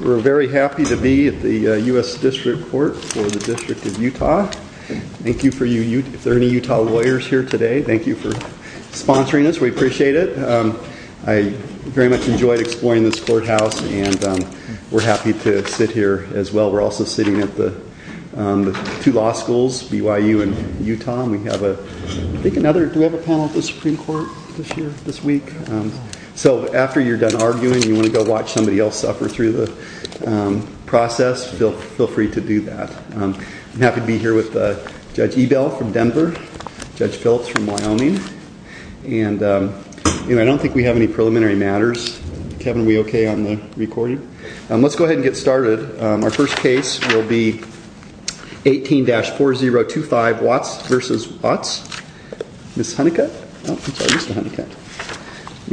We're very happy to be at the U.S. District Court for the District of Utah. Thank you for you. If there are any Utah lawyers here today, thank you for sponsoring us. We appreciate it. I very much enjoyed exploring this courthouse and we're happy to sit here as well. We're panel at the Supreme Court this week? So after you're done arguing and you want to go watch somebody else suffer through the process, feel free to do that. I'm happy to be here with Judge Ebel from Denver, Judge Phelps from Wyoming, and I don't think we have any preliminary matters. Kevin, are we okay on the recording? Let's go ahead and get started. Our first case will be 18-4025 Watts v. Watts. You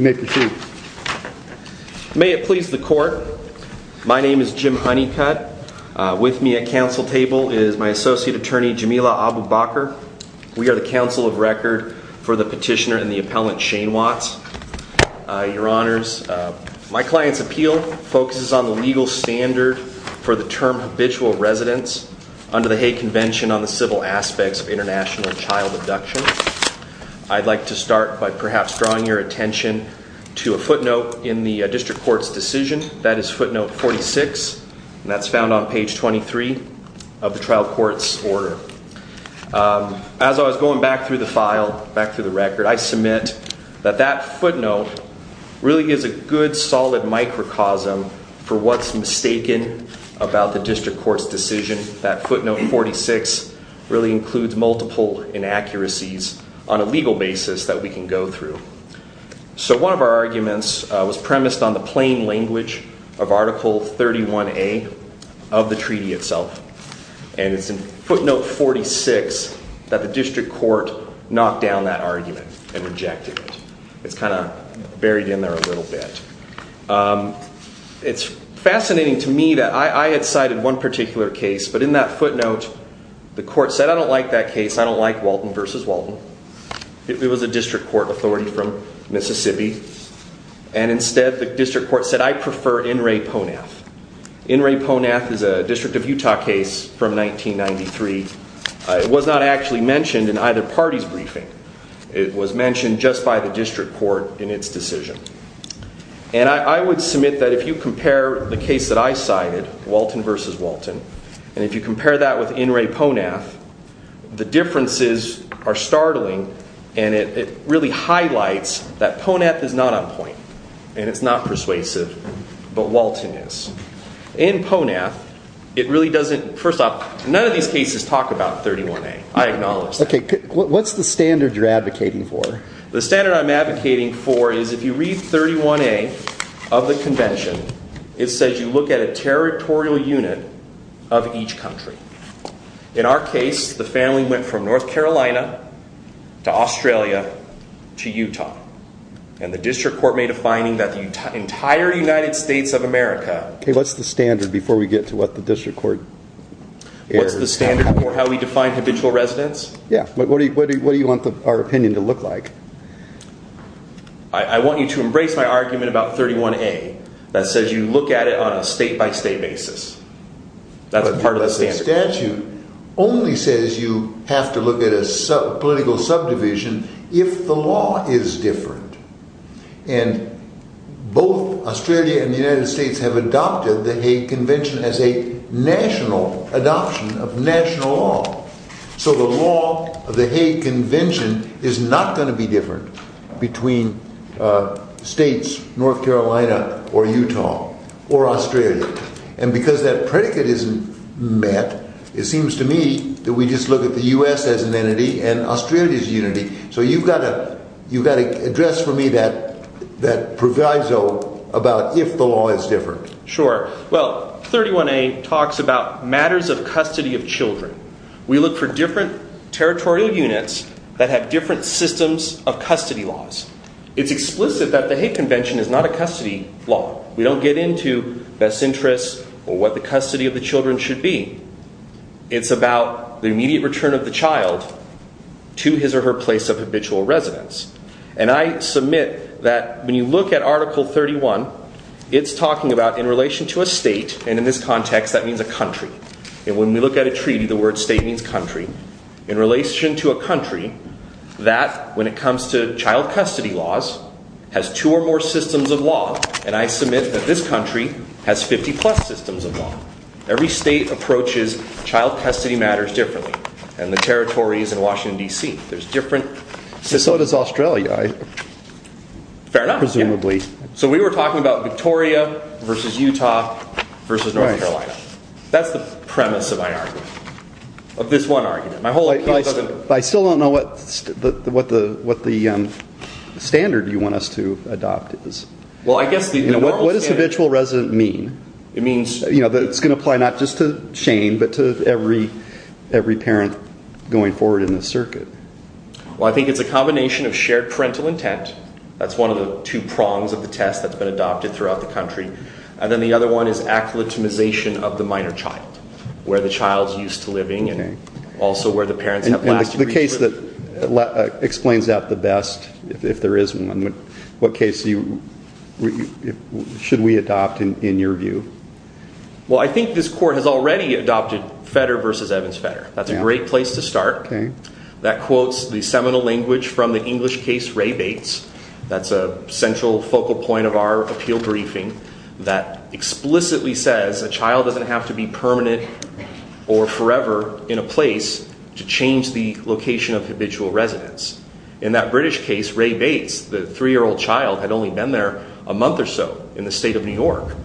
may proceed. May it please the court, my name is Jim Honeycutt. With me at counsel table is my associate attorney Jamila Abu-Bakr. We are the counsel of record for the petitioner and the appellant Shane Watts. Your honors, my client's appeal focuses on the legal standard for the term habitual residence under the Hay Convention on the civil aspects of international child abduction. I'd like to start by perhaps drawing your attention to a footnote in the district court's decision. That is footnote 46, and that's found on page 23 of the trial court's order. As I was going back through the file, I submit that that footnote really is a good, solid microcosm for what's mistaken about the district court's decision. That footnote 46 really includes multiple inaccuracies on a legal basis that we can go through. One of our arguments was premised on the plain language of article 31A of footnote 46 that the district court knocked down that argument and rejected it. It's kind of buried in there a little bit. It's fascinating to me that I had cited one particular case, but in that footnote the court said I don't like that case, I don't like Walton v. Walton. It was a district court authority from Mississippi, and instead the district court said I prefer In re Ponath. In re Ponath is a district of Utah case from 1993. It was not actually mentioned in either party's briefing. It was mentioned just by the district court in its decision. And I would submit that if you compare the case that I cited, Walton v. Walton, and if you compare that with In re Ponath, the differences are startling, and it really highlights that Ponath is not on the same page as Walton is. In Ponath, it really doesn't, first off, none of these cases talk about 31A. I acknowledge that. Okay, what's the standard you're advocating for? The standard I'm advocating for is if you read 31A of the convention, it says you look at a territorial unit of each country. In our case, the family went from North Carolina to Australia to Utah, and the district court made that the entire United States of America... Okay, what's the standard before we get to what the district court... What's the standard for how we define habitual residence? Yeah, but what do you want our opinion to look like? I want you to embrace my argument about 31A that says you look at it on a state-by-state basis. That's part of the standard. The statute only says you have to look at a political subdivision if the law is different, and both Australia and the United States have adopted the Hague Convention as a national adoption of national law, so the law of the Hague Convention is not going to be different between states, North Carolina or Utah or Australia, and because that predicate isn't met, it seems to me that we just look at the U.S. as an entity and Australia's unity, so you've got to address for me that proviso about if the law is different. Sure. Well, 31A talks about matters of custody of children. We look for different territorial units that have different systems of custody laws. It's explicit that the Hague Convention is not a custody law. We don't get into best interests or what the custody of the children should be. It's about the immediate return of the child to his or her place of habitual residence, and I submit that when you look at Article 31, it's talking about in relation to a state, and in this context that means a country, and when we look at a treaty, the word state means country, in relation to a country that when it comes to child custody laws has two or more systems of law, and I submit that this country has 50 plus systems of law. Every state approaches child custody matters differently, and the territories in Washington, D.C. There's different systems. So does Australia. Fair enough. Presumably. So we were talking about Victoria versus Utah versus North Carolina. That's the premise of my argument, but I still don't know what the standard you want us to adopt is. What does habitual resident mean? That it's going to apply not just to Shane, but to every parent going forward in this circuit. Well, I think it's a combination of shared parental intent. That's one of the two prongs of the test that's been adopted throughout the country, and then the other one is acclimatization of the minor child, where the child's used to living and also where the parents have lasted. The case that explains that the best, if there is one, what case should we adopt in your view? Well, I think this court has already adopted Fetter versus Evans-Fetter. That's a great place to start. That quotes the seminal language from the English case Ray Bates. That's a central focal point of our appeal briefing that explicitly says a child doesn't have to be permanent or forever in a place to change the location of habitual residence. In that British case, Ray Bates, the three-year-old child, had only been there a month or so in the state of New York,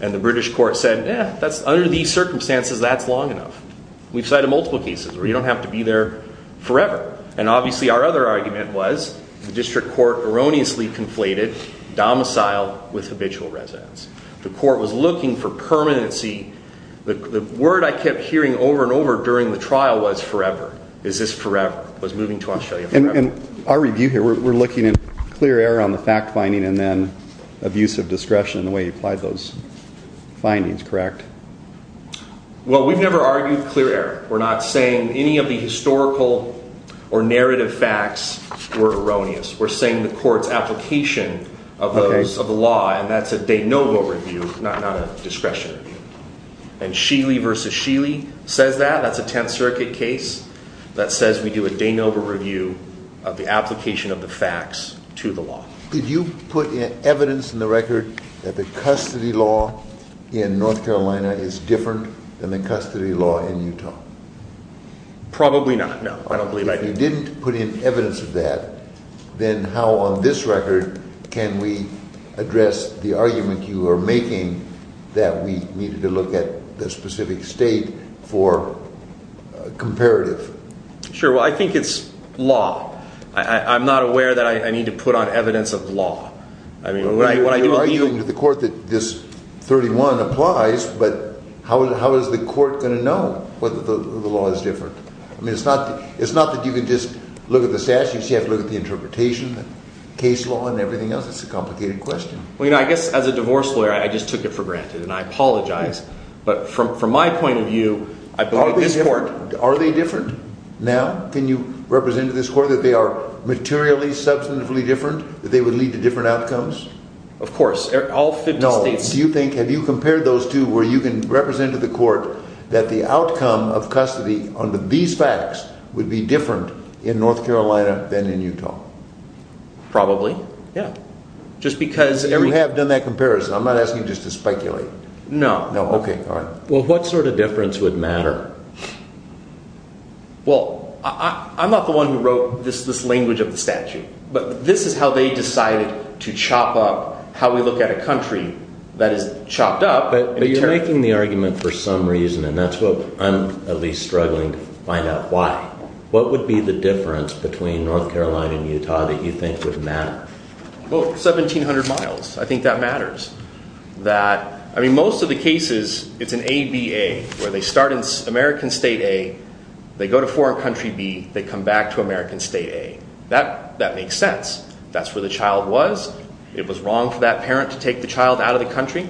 and the British court said, yeah, under these circumstances, that's long enough. We've cited multiple cases where you don't have to be there forever, and obviously our other argument was the district court erroneously conflated domicile with habitual residence. The court was looking for permanency. The word I kept hearing over and over during the trial was forever. Is this forever? Was moving to Australia forever? In our review here, we're looking at clear error on the fact finding and then abusive discretion in the way you applied those findings, correct? Well, we've never argued clear error. We're not saying any of the historical or narrative facts were erroneous. We're saying the application of those, of the law, and that's a de novo review, not a discretion review. And Sheely versus Sheely says that. That's a Tenth Circuit case that says we do a de novo review of the application of the facts to the law. Did you put evidence in the record that the custody law in North Carolina is different than the custody law in Utah? Probably not, no. I don't can we address the argument you are making that we needed to look at the specific state for comparative? Sure. Well, I think it's law. I'm not aware that I need to put on evidence of law. I mean, when I do argue with the court that this 31 applies, but how is the court going to know whether the law is different? I mean, it's not that you can just look at the statute. You have to look at the interpretation, the case law and everything else. It's a complicated question. Well, you know, I guess as a divorce lawyer, I just took it for granted and I apologize. But from my point of view, I believe this court... Are they different now? Can you represent to this court that they are materially, substantively different, that they would lead to different outcomes? Of course. All 50 states... No. Do you think, have you compared those two where you can represent to the court that the outcome of custody on these facts would be in North Carolina than in Utah? Probably. Yeah. Just because... You have done that comparison. I'm not asking you just to speculate. No. No. Okay. All right. Well, what sort of difference would matter? Well, I'm not the one who wrote this language of the statute, but this is how they decided to chop up how we look at a country that is chopped up. But you're making the argument for some reason, and that's what I'm at least struggling to find out why. What would be the difference between North Carolina and Utah that you think would matter? Well, 1,700 miles. I think that matters. I mean, most of the cases, it's an ABA where they start in American State A, they go to foreign country B, they come back to American State A. That makes sense. That's where the child was. It was wrong for that parent to take the child out of the country.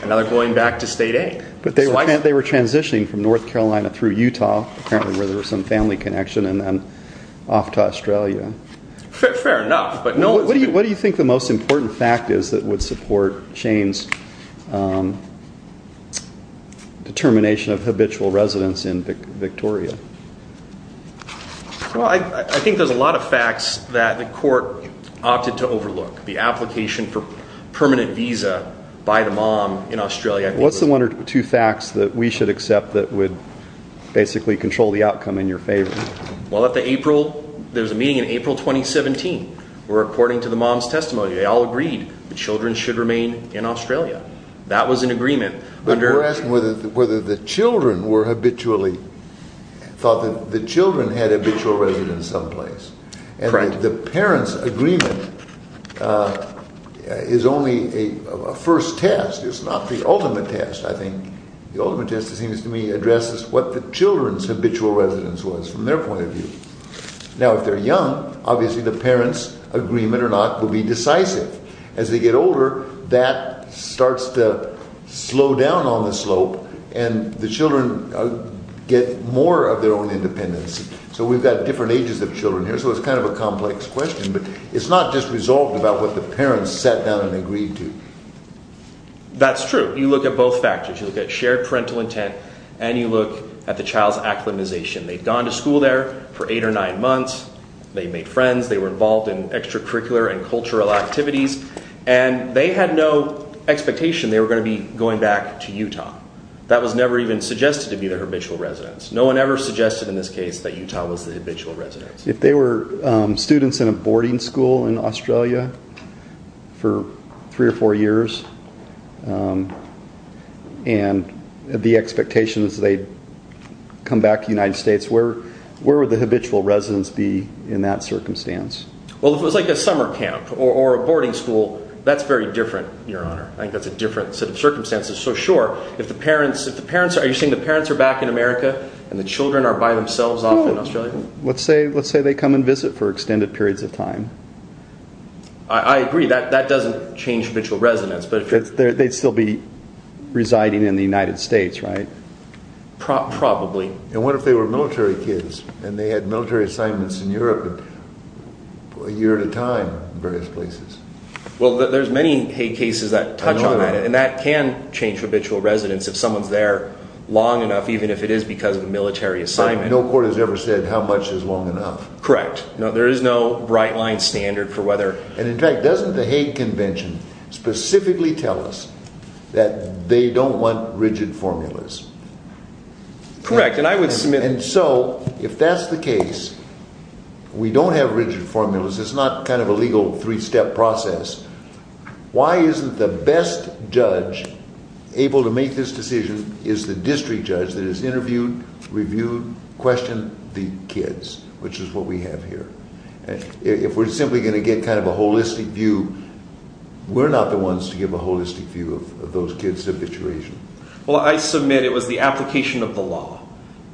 And now they're going back to State A. But they were transitioning from North Carolina through Utah, apparently, where there was some family connection, and then off to Australia. Fair enough. What do you think the most important fact is that would support Shane's determination of habitual residence in Victoria? Well, I think there's a lot of facts that the court opted to overlook. The application for permanent visa by the mom in Australia. What's the one or two facts that we should accept that would basically control the outcome in your favor? Well, there was a meeting in April 2017, where according to the mom's testimony, they all agreed the children should remain in Australia. That was an agreement. But we're asking whether the children thought that the children had habitual residence someplace. And the parents' agreement is only a first test. It's not the ultimate test, I think. The ultimate test, it seems to me, addresses what the children's habitual residence was from their point of view. Now, if they're young, obviously, the parents' agreement or not will be decisive. As they get older, that starts to slow down on the slope, and the children get more of their own independence. So we've got different ages of children here, so it's kind of a complex question. But it's not just resolved about what the parents sat down and agreed to. That's true. You look at both factors. You look at shared parental intent, and you look at the child's acclimatization. They'd gone to school there for eight or nine months. They made friends. They were involved in extracurricular and cultural activities. And they had no expectation they were going to be going back to Utah. That was never even suggested to be their habitual residence. No one ever suggested in this case that Utah was the habitual residence. If they were students in a boarding school in Australia for three or four years, and the expectation is they'd come back to the United States, where would the habitual residence be in that circumstance? Well, if it was like a summer camp or a boarding school, that's very different, Your Honor. I think that's a different set of circumstances. So sure, are you saying the parents are back in America, and the children are by themselves off in Australia? Let's say they come and visit for extended periods of time. I agree. That doesn't change habitual residence. They'd still be residing in the United States, right? Probably. And what if they were military kids, and they had military assignments in Europe a year at a time in various places? Well, there's many Hague cases that touch on that, and that can change habitual residence if someone's there long enough, even if it is because of a military assignment. No court has ever said how much is long enough. Correct. There is no bright line standard for whether... And in fact, doesn't the Hague Convention specifically tell us that they don't want rigid formulas? Correct, and I would submit... And so if that's the case, we don't have rigid formulas. It's not kind of a legal three-step process. Why isn't the best judge able to make this decision is the district judge that has interviewed, reviewed, questioned the kids, which is what we have here? If we're simply going to get kind of a holistic view, we're not the ones to give a holistic view of those kids' habituation. Well, I submit it was the application of the law.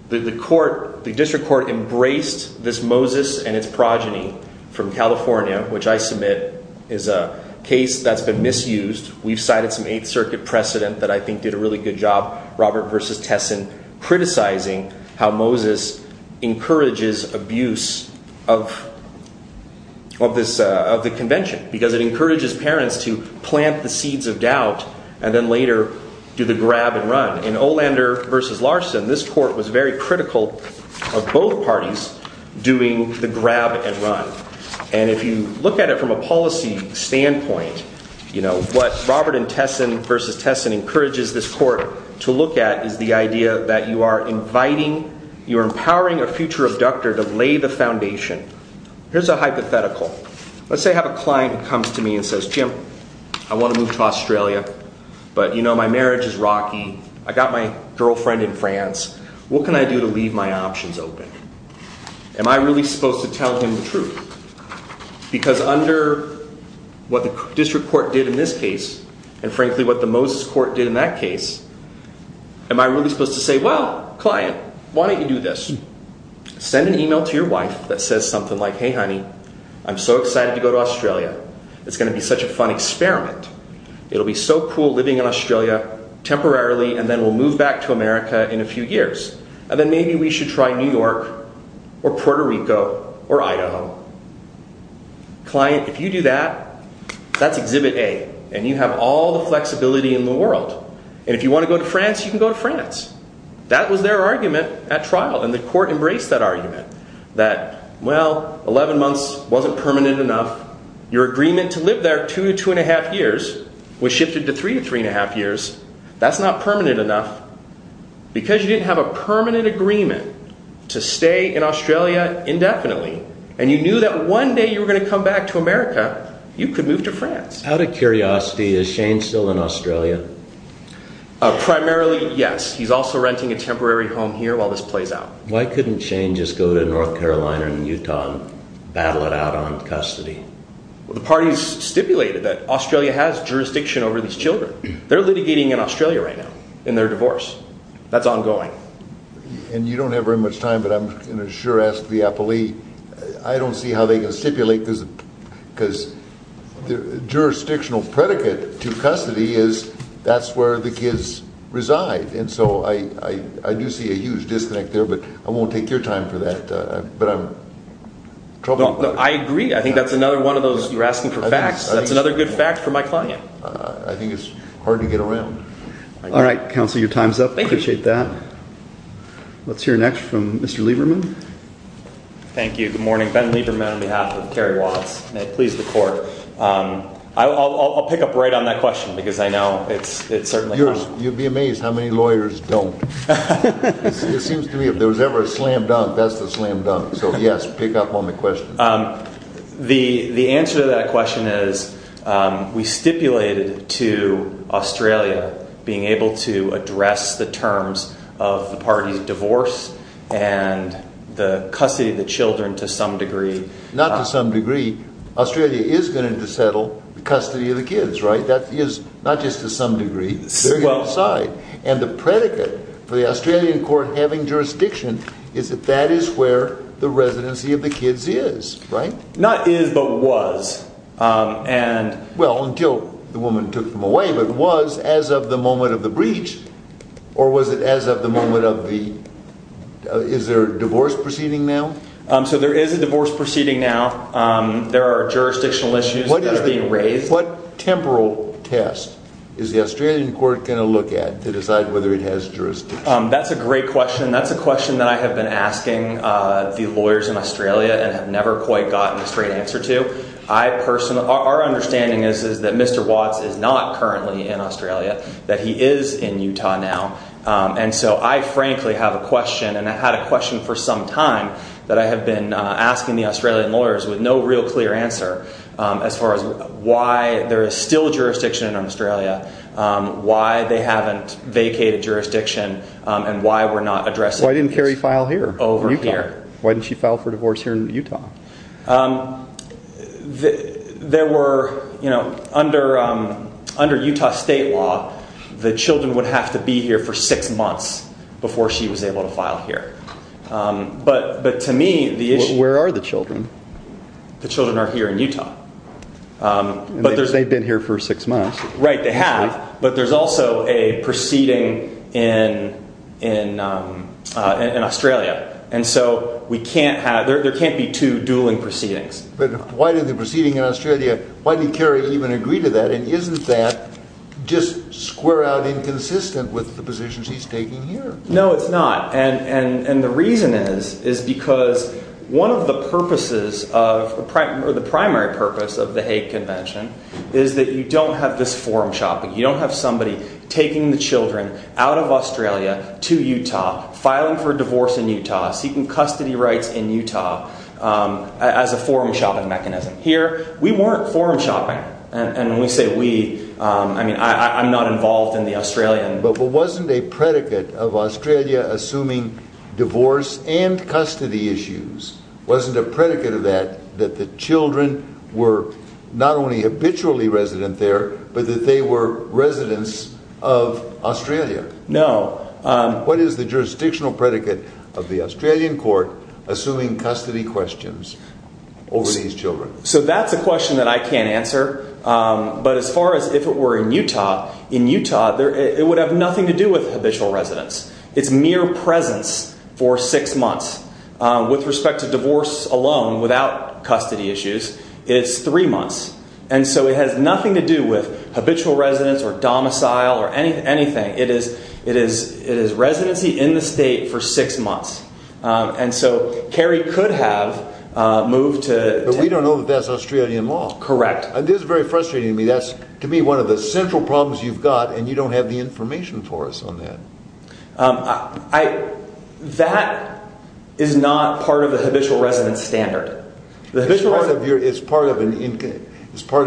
The district court embraced this Moses and its progeny from California, which I submit is a case that's been misused. We've cited some Eighth Circuit precedent that I think did a really good job, Robert versus Tesson, criticizing how Moses encourages abuse of the convention, because it encourages parents to plant the seeds of doubt and then later do the grab and run. In Olander versus Larson, this court was very critical of both parties doing the grab and run. And if you look at it from a policy standpoint, what Robert and Tesson versus Tesson encourages this court to look at is the idea that you are inviting, you're empowering a future abductor to lay the foundation. Here's a hypothetical. Let's say I have a client who comes to me and says, Jim, I want to move to Australia, but you know, my marriage is rocky. I got my girlfriend in France. What can I do to leave my options open? Am I really supposed to tell him the truth? Because under what the district court did in this case, and frankly, what the Moses court did in that case, am I really supposed to say, well, client, why don't you do this? Send an email to your wife that says something like, hey, honey, I'm so excited to go to Australia. It's going to be such a fun experiment. It'll be so cool living in Australia temporarily, and then we'll move back to America in a few years. And then maybe we should try New York or Puerto Rico or Idaho. Client, if you do that, that's exhibit A, and you have all the flexibility in the world. And if you want to go to France, you can go to France. That was their argument at trial. And the court embraced that argument that, well, 11 months wasn't permanent enough. Your agreement to live there two to two and a half years was shifted to three to three and a half years. That's not permanent enough. Because you didn't have a permanent agreement to stay in Australia indefinitely. And you knew that one day you were going to come back to America. You could move to France. Out of curiosity, is Shane still in Australia? Primarily, yes. He's also renting a temporary home here while this plays out. Why couldn't Shane just go to North Carolina and Utah and battle it out on custody? Well, the parties stipulated that Australia has jurisdiction over these children. They're litigating in Australia right now in their divorce. That's ongoing. And you don't have very much time, but I'm going to sure ask the appellee. I don't see how they can stipulate because the jurisdictional predicate to custody is that's where the kids reside. And so I do see a huge disconnect there, but I won't take your time for that. But I'm troubled. I agree. I think that's another one of those. You're asking for facts. That's another good fact for my client. I think it's hard to get around. All right, counsel, your time's up. I appreciate that. Let's hear next from Mr. Lieberman. Thank you. Good morning. Ben Lieberman on behalf of Kerry Watts. May it please the court. I'll pick up right on that question because I know it's certainly. You'd be amazed how many lawyers don't. It seems to me if there was ever a slam dunk, that's the slam dunk. So yes, pick up on the question. The answer to that question is we stipulated to Australia being able to address the terms of the party's divorce and the custody of the children to some degree. Not to some degree. Australia is going to settle the custody of the kids, right? That is not just to some degree. They're going to decide. And the predicate for the Australian court having jurisdiction is that that is where the residency of the kids is, right? Not is, but was. Well, until the woman took them away, but was as of the moment of the breach or was it as of the moment of the... Is there a divorce proceeding now? So there is a divorce proceeding now. There are jurisdictional issues that are being raised. What temporal test is the Australian court going to look at to decide whether it has jurisdiction? That's a great question. That's a question that I have been asking the lawyers in Australia and have never quite gotten a straight answer to. Our understanding is that Mr. Watts is not currently in Australia, that he is in Utah now. And so I frankly have a question and I had a question for some time that I have been asking the Australian lawyers with no real clear answer as far as why there is still jurisdiction in Australia, why they haven't vacated jurisdiction and why we're not addressing... Why didn't Carrie file here? Over here. Why didn't she file for divorce here in Utah? There were... Under Utah state law, the children would have to be here for six months before she was able to file here. But to me, the issue... Where are the children? The children are here in Utah. They've been here for six months. Right, they have. But there's also a proceeding in Australia. And so we can't have... There can't be two dueling proceedings. But why did the proceeding in Australia, why did Carrie even agree to that? And isn't that just square out inconsistent with the positions he's taking here? No, it's not. And the reason is, is because one of the purposes of the primary purpose of the Hague Convention is that you don't have this forum shopping. You don't have somebody taking the children out of Australia to Utah, filing for a seeking custody rights in Utah as a forum shopping mechanism. Here, we weren't forum shopping. And when we say we, I mean, I'm not involved in the Australian... But wasn't a predicate of Australia assuming divorce and custody issues? Wasn't a predicate of that that the children were not only habitually resident there, but that they were residents of Australia? No. What is the jurisdictional predicate of the Australian court assuming custody questions over these children? So that's a question that I can't answer. But as far as if it were in Utah, in Utah, it would have nothing to do with habitual residents. It's mere presence for six months. With respect to divorce alone, without custody issues, it's three months. And so it has nothing to do with habitual residents or domicile or anything. It is residency in the state for six months. And so Kerry could have moved to... But we don't know that that's Australian law. Correct. This is very frustrating to me. That's, to me, one of the central problems you've got. And you don't have the information for us on that. That is not part of the habitual resident standard. It's part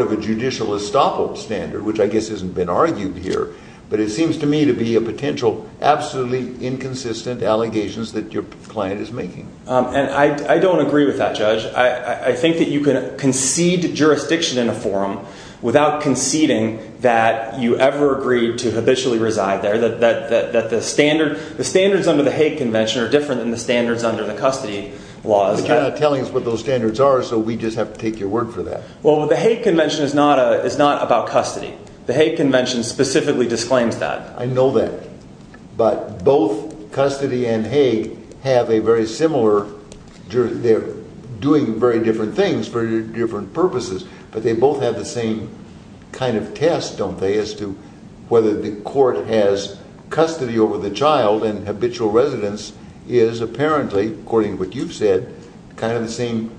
of a judicial estoppel standard, which I guess hasn't been argued here. But it seems to me to be a potential absolutely inconsistent allegations that your client is making. And I don't agree with that, Judge. I think that you can concede jurisdiction in a forum without conceding that you ever agreed to habitually reside there. The standards under the Hague Convention are different than the standards under the custody laws. You're not telling us what those standards are. So we just have to take your word for that. Well, the Hague Convention is not about custody. The Hague Convention specifically disclaims that. I know that. But both custody and Hague have a very similar... They're doing very different things for different purposes. But they both have the same kind of test, don't they, as to whether the court has custody over the child and habitual residence is apparently, according to what you've said, kind of the same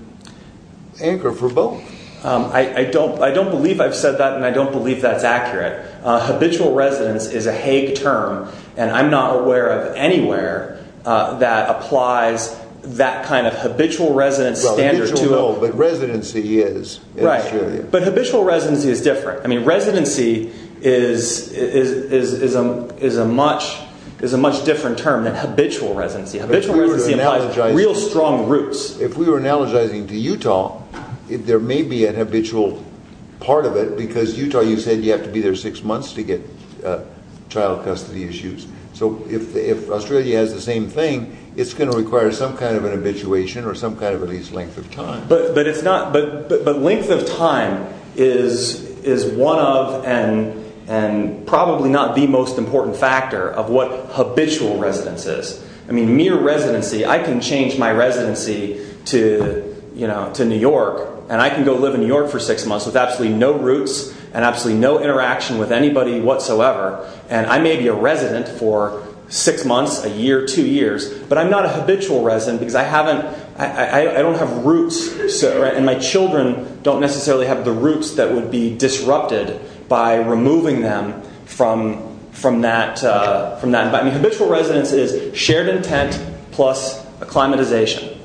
anchor for both. I don't believe I've said that. And I don't believe that's accurate. Habitual residence is a Hague term. And I'm not aware of anywhere that applies that kind of habitual residence standard to it. But residency is. Right. But habitual residency is different. I mean, residency is a much different term than habitual residency. Habitual residency implies real strong roots. If we were analogizing to Utah, there may be an habitual part of it because Utah, you said you have to be there six months to get child custody issues. So if Australia has the same thing, it's going to require some kind of an habituation or some kind of at least length of time. But length of time is one of and probably not the most important factor of what habitual residence is. I mean, mere residency. I can change my residency to New York and I can go live in New York for six months with absolutely no roots and absolutely no interaction with anybody whatsoever. And I may be a resident for six months, a year, two years, but I'm not a habitual resident because I haven't, I don't have roots and my children don't necessarily have the roots that would be disrupted by removing them from that. Habitual residence is shared intent plus acclimatization.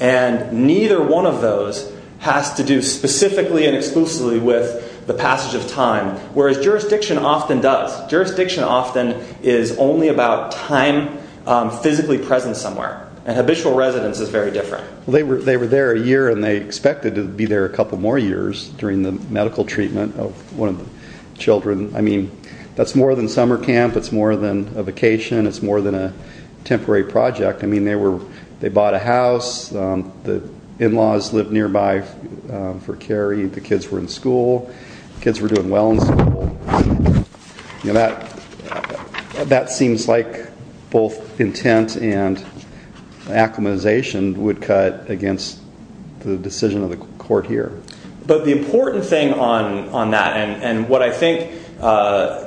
And neither one of those has to do specifically and exclusively with the passage of time. Whereas jurisdiction often does. Jurisdiction often is only about time physically present somewhere. And habitual residence is very different. They were there a year and they expected to be there a couple more years during the medical treatment of one of the children. I mean, that's more than summer camp. It's more than a vacation. It's more than a temporary project. I mean, they were, they bought a house. The in-laws lived nearby for Kerry. The kids were in school. Kids were doing well in school. You know, that seems like both intent and acclimatization would cut against the decision of the court here. But the important thing on that and what I think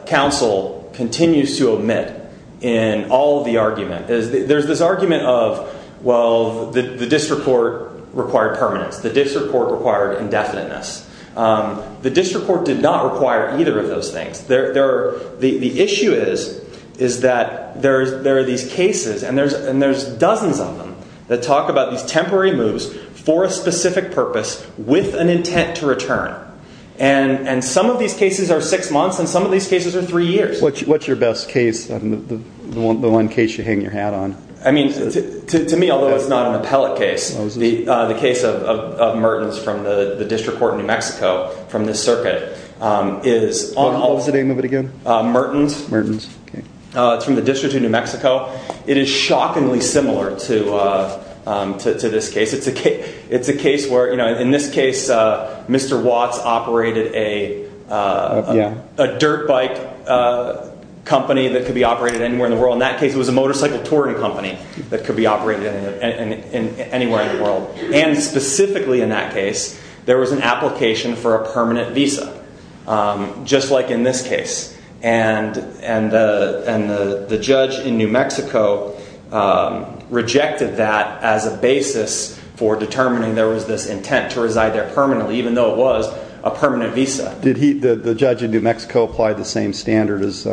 council continues to omit in all of the argument is there's this argument of, well, the district court required permanence. The district court required indefiniteness. The district court did not require either of those things. The issue is that there are these cases and there's dozens of them that talk about these intent to return and some of these cases are six months and some of these cases are three years. What's your best case? The one case you hang your hat on. I mean, to me, although it's not an appellate case, the case of Mertens from the district court in New Mexico from this circuit is on all of them. What was the name of it again? Mertens. Mertens. It's from the district of New Mexico. It is shockingly similar to this case. It's a case where, in this case, Mr. Watts operated a dirt bike company that could be operated anywhere in the world. In that case, it was a motorcycle touring company that could be operated anywhere in the world. And specifically in that case, there was an application for a permanent visa, just like in this case. And the judge in New Mexico rejected that as a basis for determining there was this intent to reside there permanently, even though it was a permanent visa. Did the judge in New Mexico apply the same standard as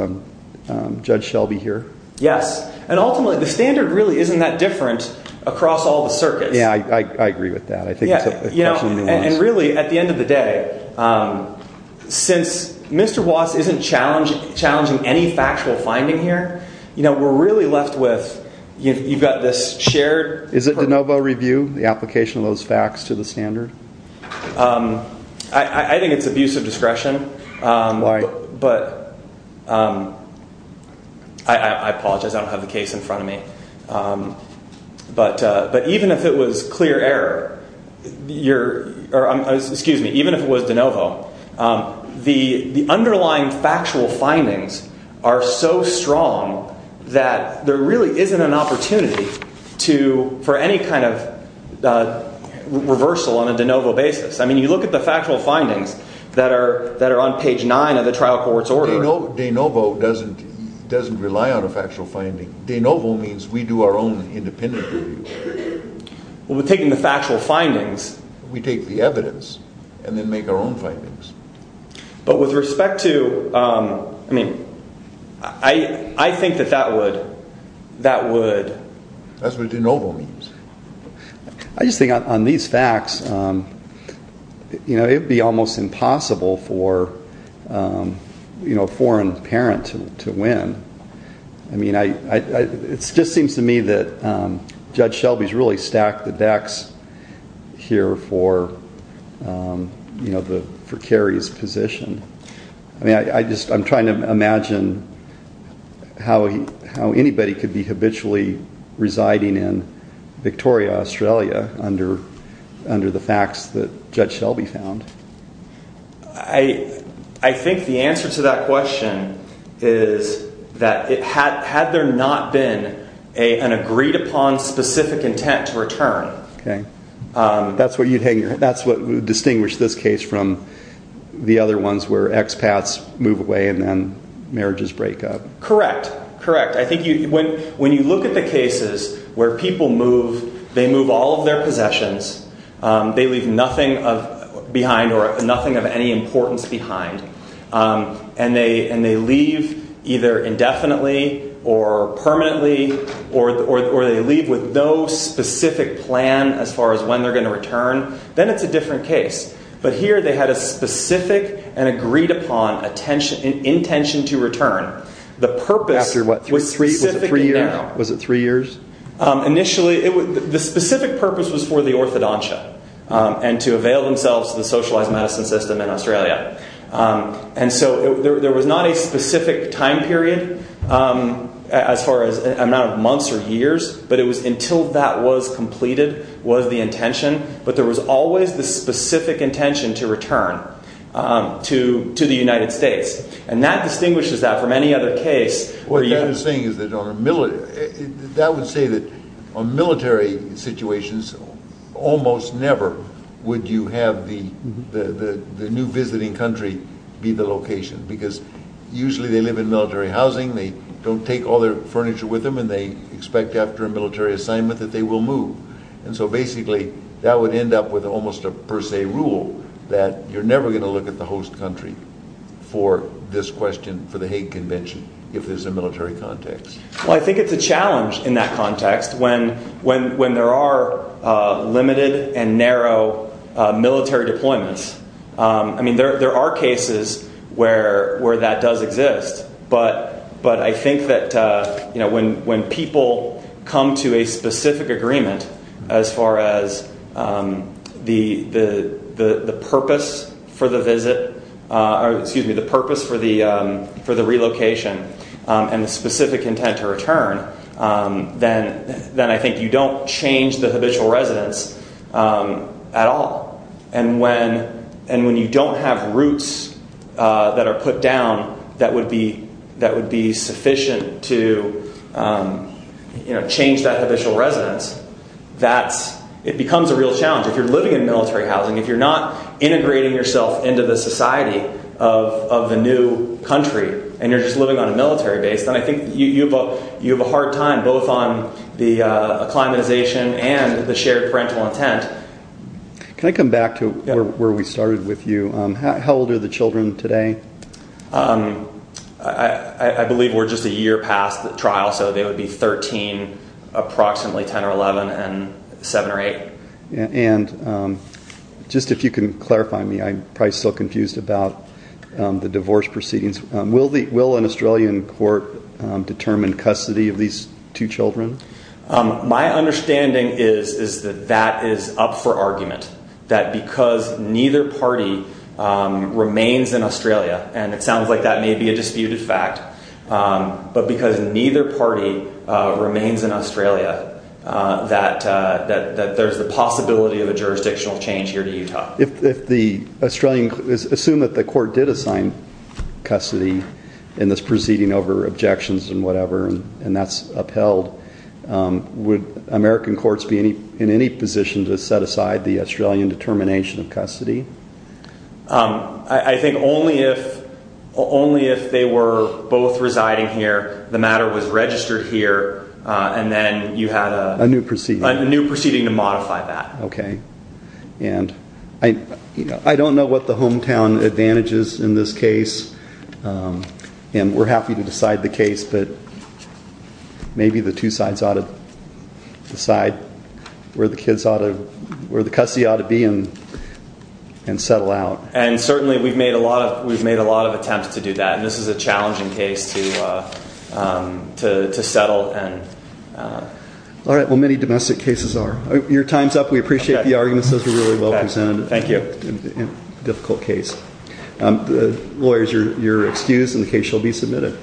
Judge Shelby here? Yes. And ultimately, the standard really isn't that different across all the circuits. Yeah, I agree with that. And really, at the end of the day, since Mr. Watts isn't challenging any factual finding here, we're really left with, you've got this shared. Is it de novo review, the application of those facts to the standard? I think it's abuse of discretion. But I apologize. I don't have the case in front of me. But even if it was clear error, or excuse me, even if it was de novo, the underlying factual findings are so strong that there really isn't an opportunity for any kind of reversal on a de novo basis. I mean, you look at the factual findings that are on page nine of the trial court's order. De novo doesn't rely on a factual finding. De novo means we do our own independent review. Well, we're taking the factual findings. We take the evidence and then make our own findings. But with respect to, I mean, I think that that would. That would. That's what de novo means. I just think on these facts, it would be almost impossible for a foreign parent to win. I mean, it just seems to me that Judge Shelby's really stacked the decks here for, you know, for Kerry's position. I mean, I just, I'm trying to imagine how anybody could be habitually residing in Victoria, Australia under the facts that Judge Shelby found. And I think the answer to that question is that it had, had there not been a, an agreed upon specific intent to return. Okay. That's what you'd hang. That's what distinguished this case from the other ones where expats move away and then marriages break up. Correct. Correct. I think when you look at the cases where people move, they move all of their possessions. They leave nothing of behind or nothing of any importance behind. And they, and they leave either indefinitely or permanently or, or, or they leave with no specific plan as far as when they're going to return. Then it's a different case. But here they had a specific and agreed upon attention, intention to return. The purpose. After what? Was it three years? Was it three years? Initially the specific purpose was for the orthodontia and to avail themselves of the socialized medicine system in Australia. And so there was not a specific time period as far as amount of months or years, but it was until that was completed was the intention, but there was always the specific intention to return to, to the United States. And that distinguishes that from any other case. What you're saying is that on a military, that would say that on military situations, almost never would you have the, the, the, the new visiting country be the location, because usually they live in military housing. They don't take all their furniture with them and they expect after a military assignment that they will move. And so basically that would end up with almost a per se rule that you're never going to get the host country for this question, for the Hague convention, if there's a military context. Well, I think it's a challenge in that context when, when, when there are limited and narrow military deployments. I mean, there, there are cases where, where that does exist, but, but I think that you to a specific agreement as far as the, the, the, the purpose for the visit or excuse me, the purpose for the for the relocation and the specific intent to return then, then I think you don't change the habitual residence at all. And when, and when you don't have roots that are put down, that would be, that would be you know, change that habitual residence. That's, it becomes a real challenge. If you're living in military housing, if you're not integrating yourself into the society of, of the new country and you're just living on a military base, then I think you, you have a, you have a hard time both on the acclimatization and the shared parental intent. Can I come back to where we started with you? How old are the children today? Um, I, I, I believe we're just a year past the trial, so they would be 13, approximately 10 or 11 and seven or eight. And, um, just if you can clarify me, I'm probably still confused about, um, the divorce proceedings. Will the, will an Australian court, um, determine custody of these two children? Um, my understanding is, is that that is up for argument that because neither party, um, remains in Australia, and it sounds like that may be a disputed fact, um, but because neither party, uh, remains in Australia, uh, that, uh, that, that there's the possibility of a jurisdictional change here to Utah. If, if the Australian, assume that the court did assign custody in this proceeding over objections and whatever, and that's upheld, um, would American courts be in any, in any position to set aside the Australian determination of custody? Um, I, I think only if, only if they were both residing here, the matter was registered here. Uh, and then you had a new proceeding, a new proceeding to modify that. Okay. And I, you know, I don't know what the hometown advantages in this case. Um, and we're happy to decide the case, but maybe the two sides ought to decide where the kids ought to, where the custody ought to be and, and settle out. And certainly we've made a lot of, we've made a lot of attempts to do that. And this is a challenging case to, uh, um, to, to settle and, uh, all right. Well, many domestic cases are your time's up. We appreciate the arguments. Those were really well presented. Thank you. Difficult case. Um, the lawyers are, you're excused and the case shall be submitted.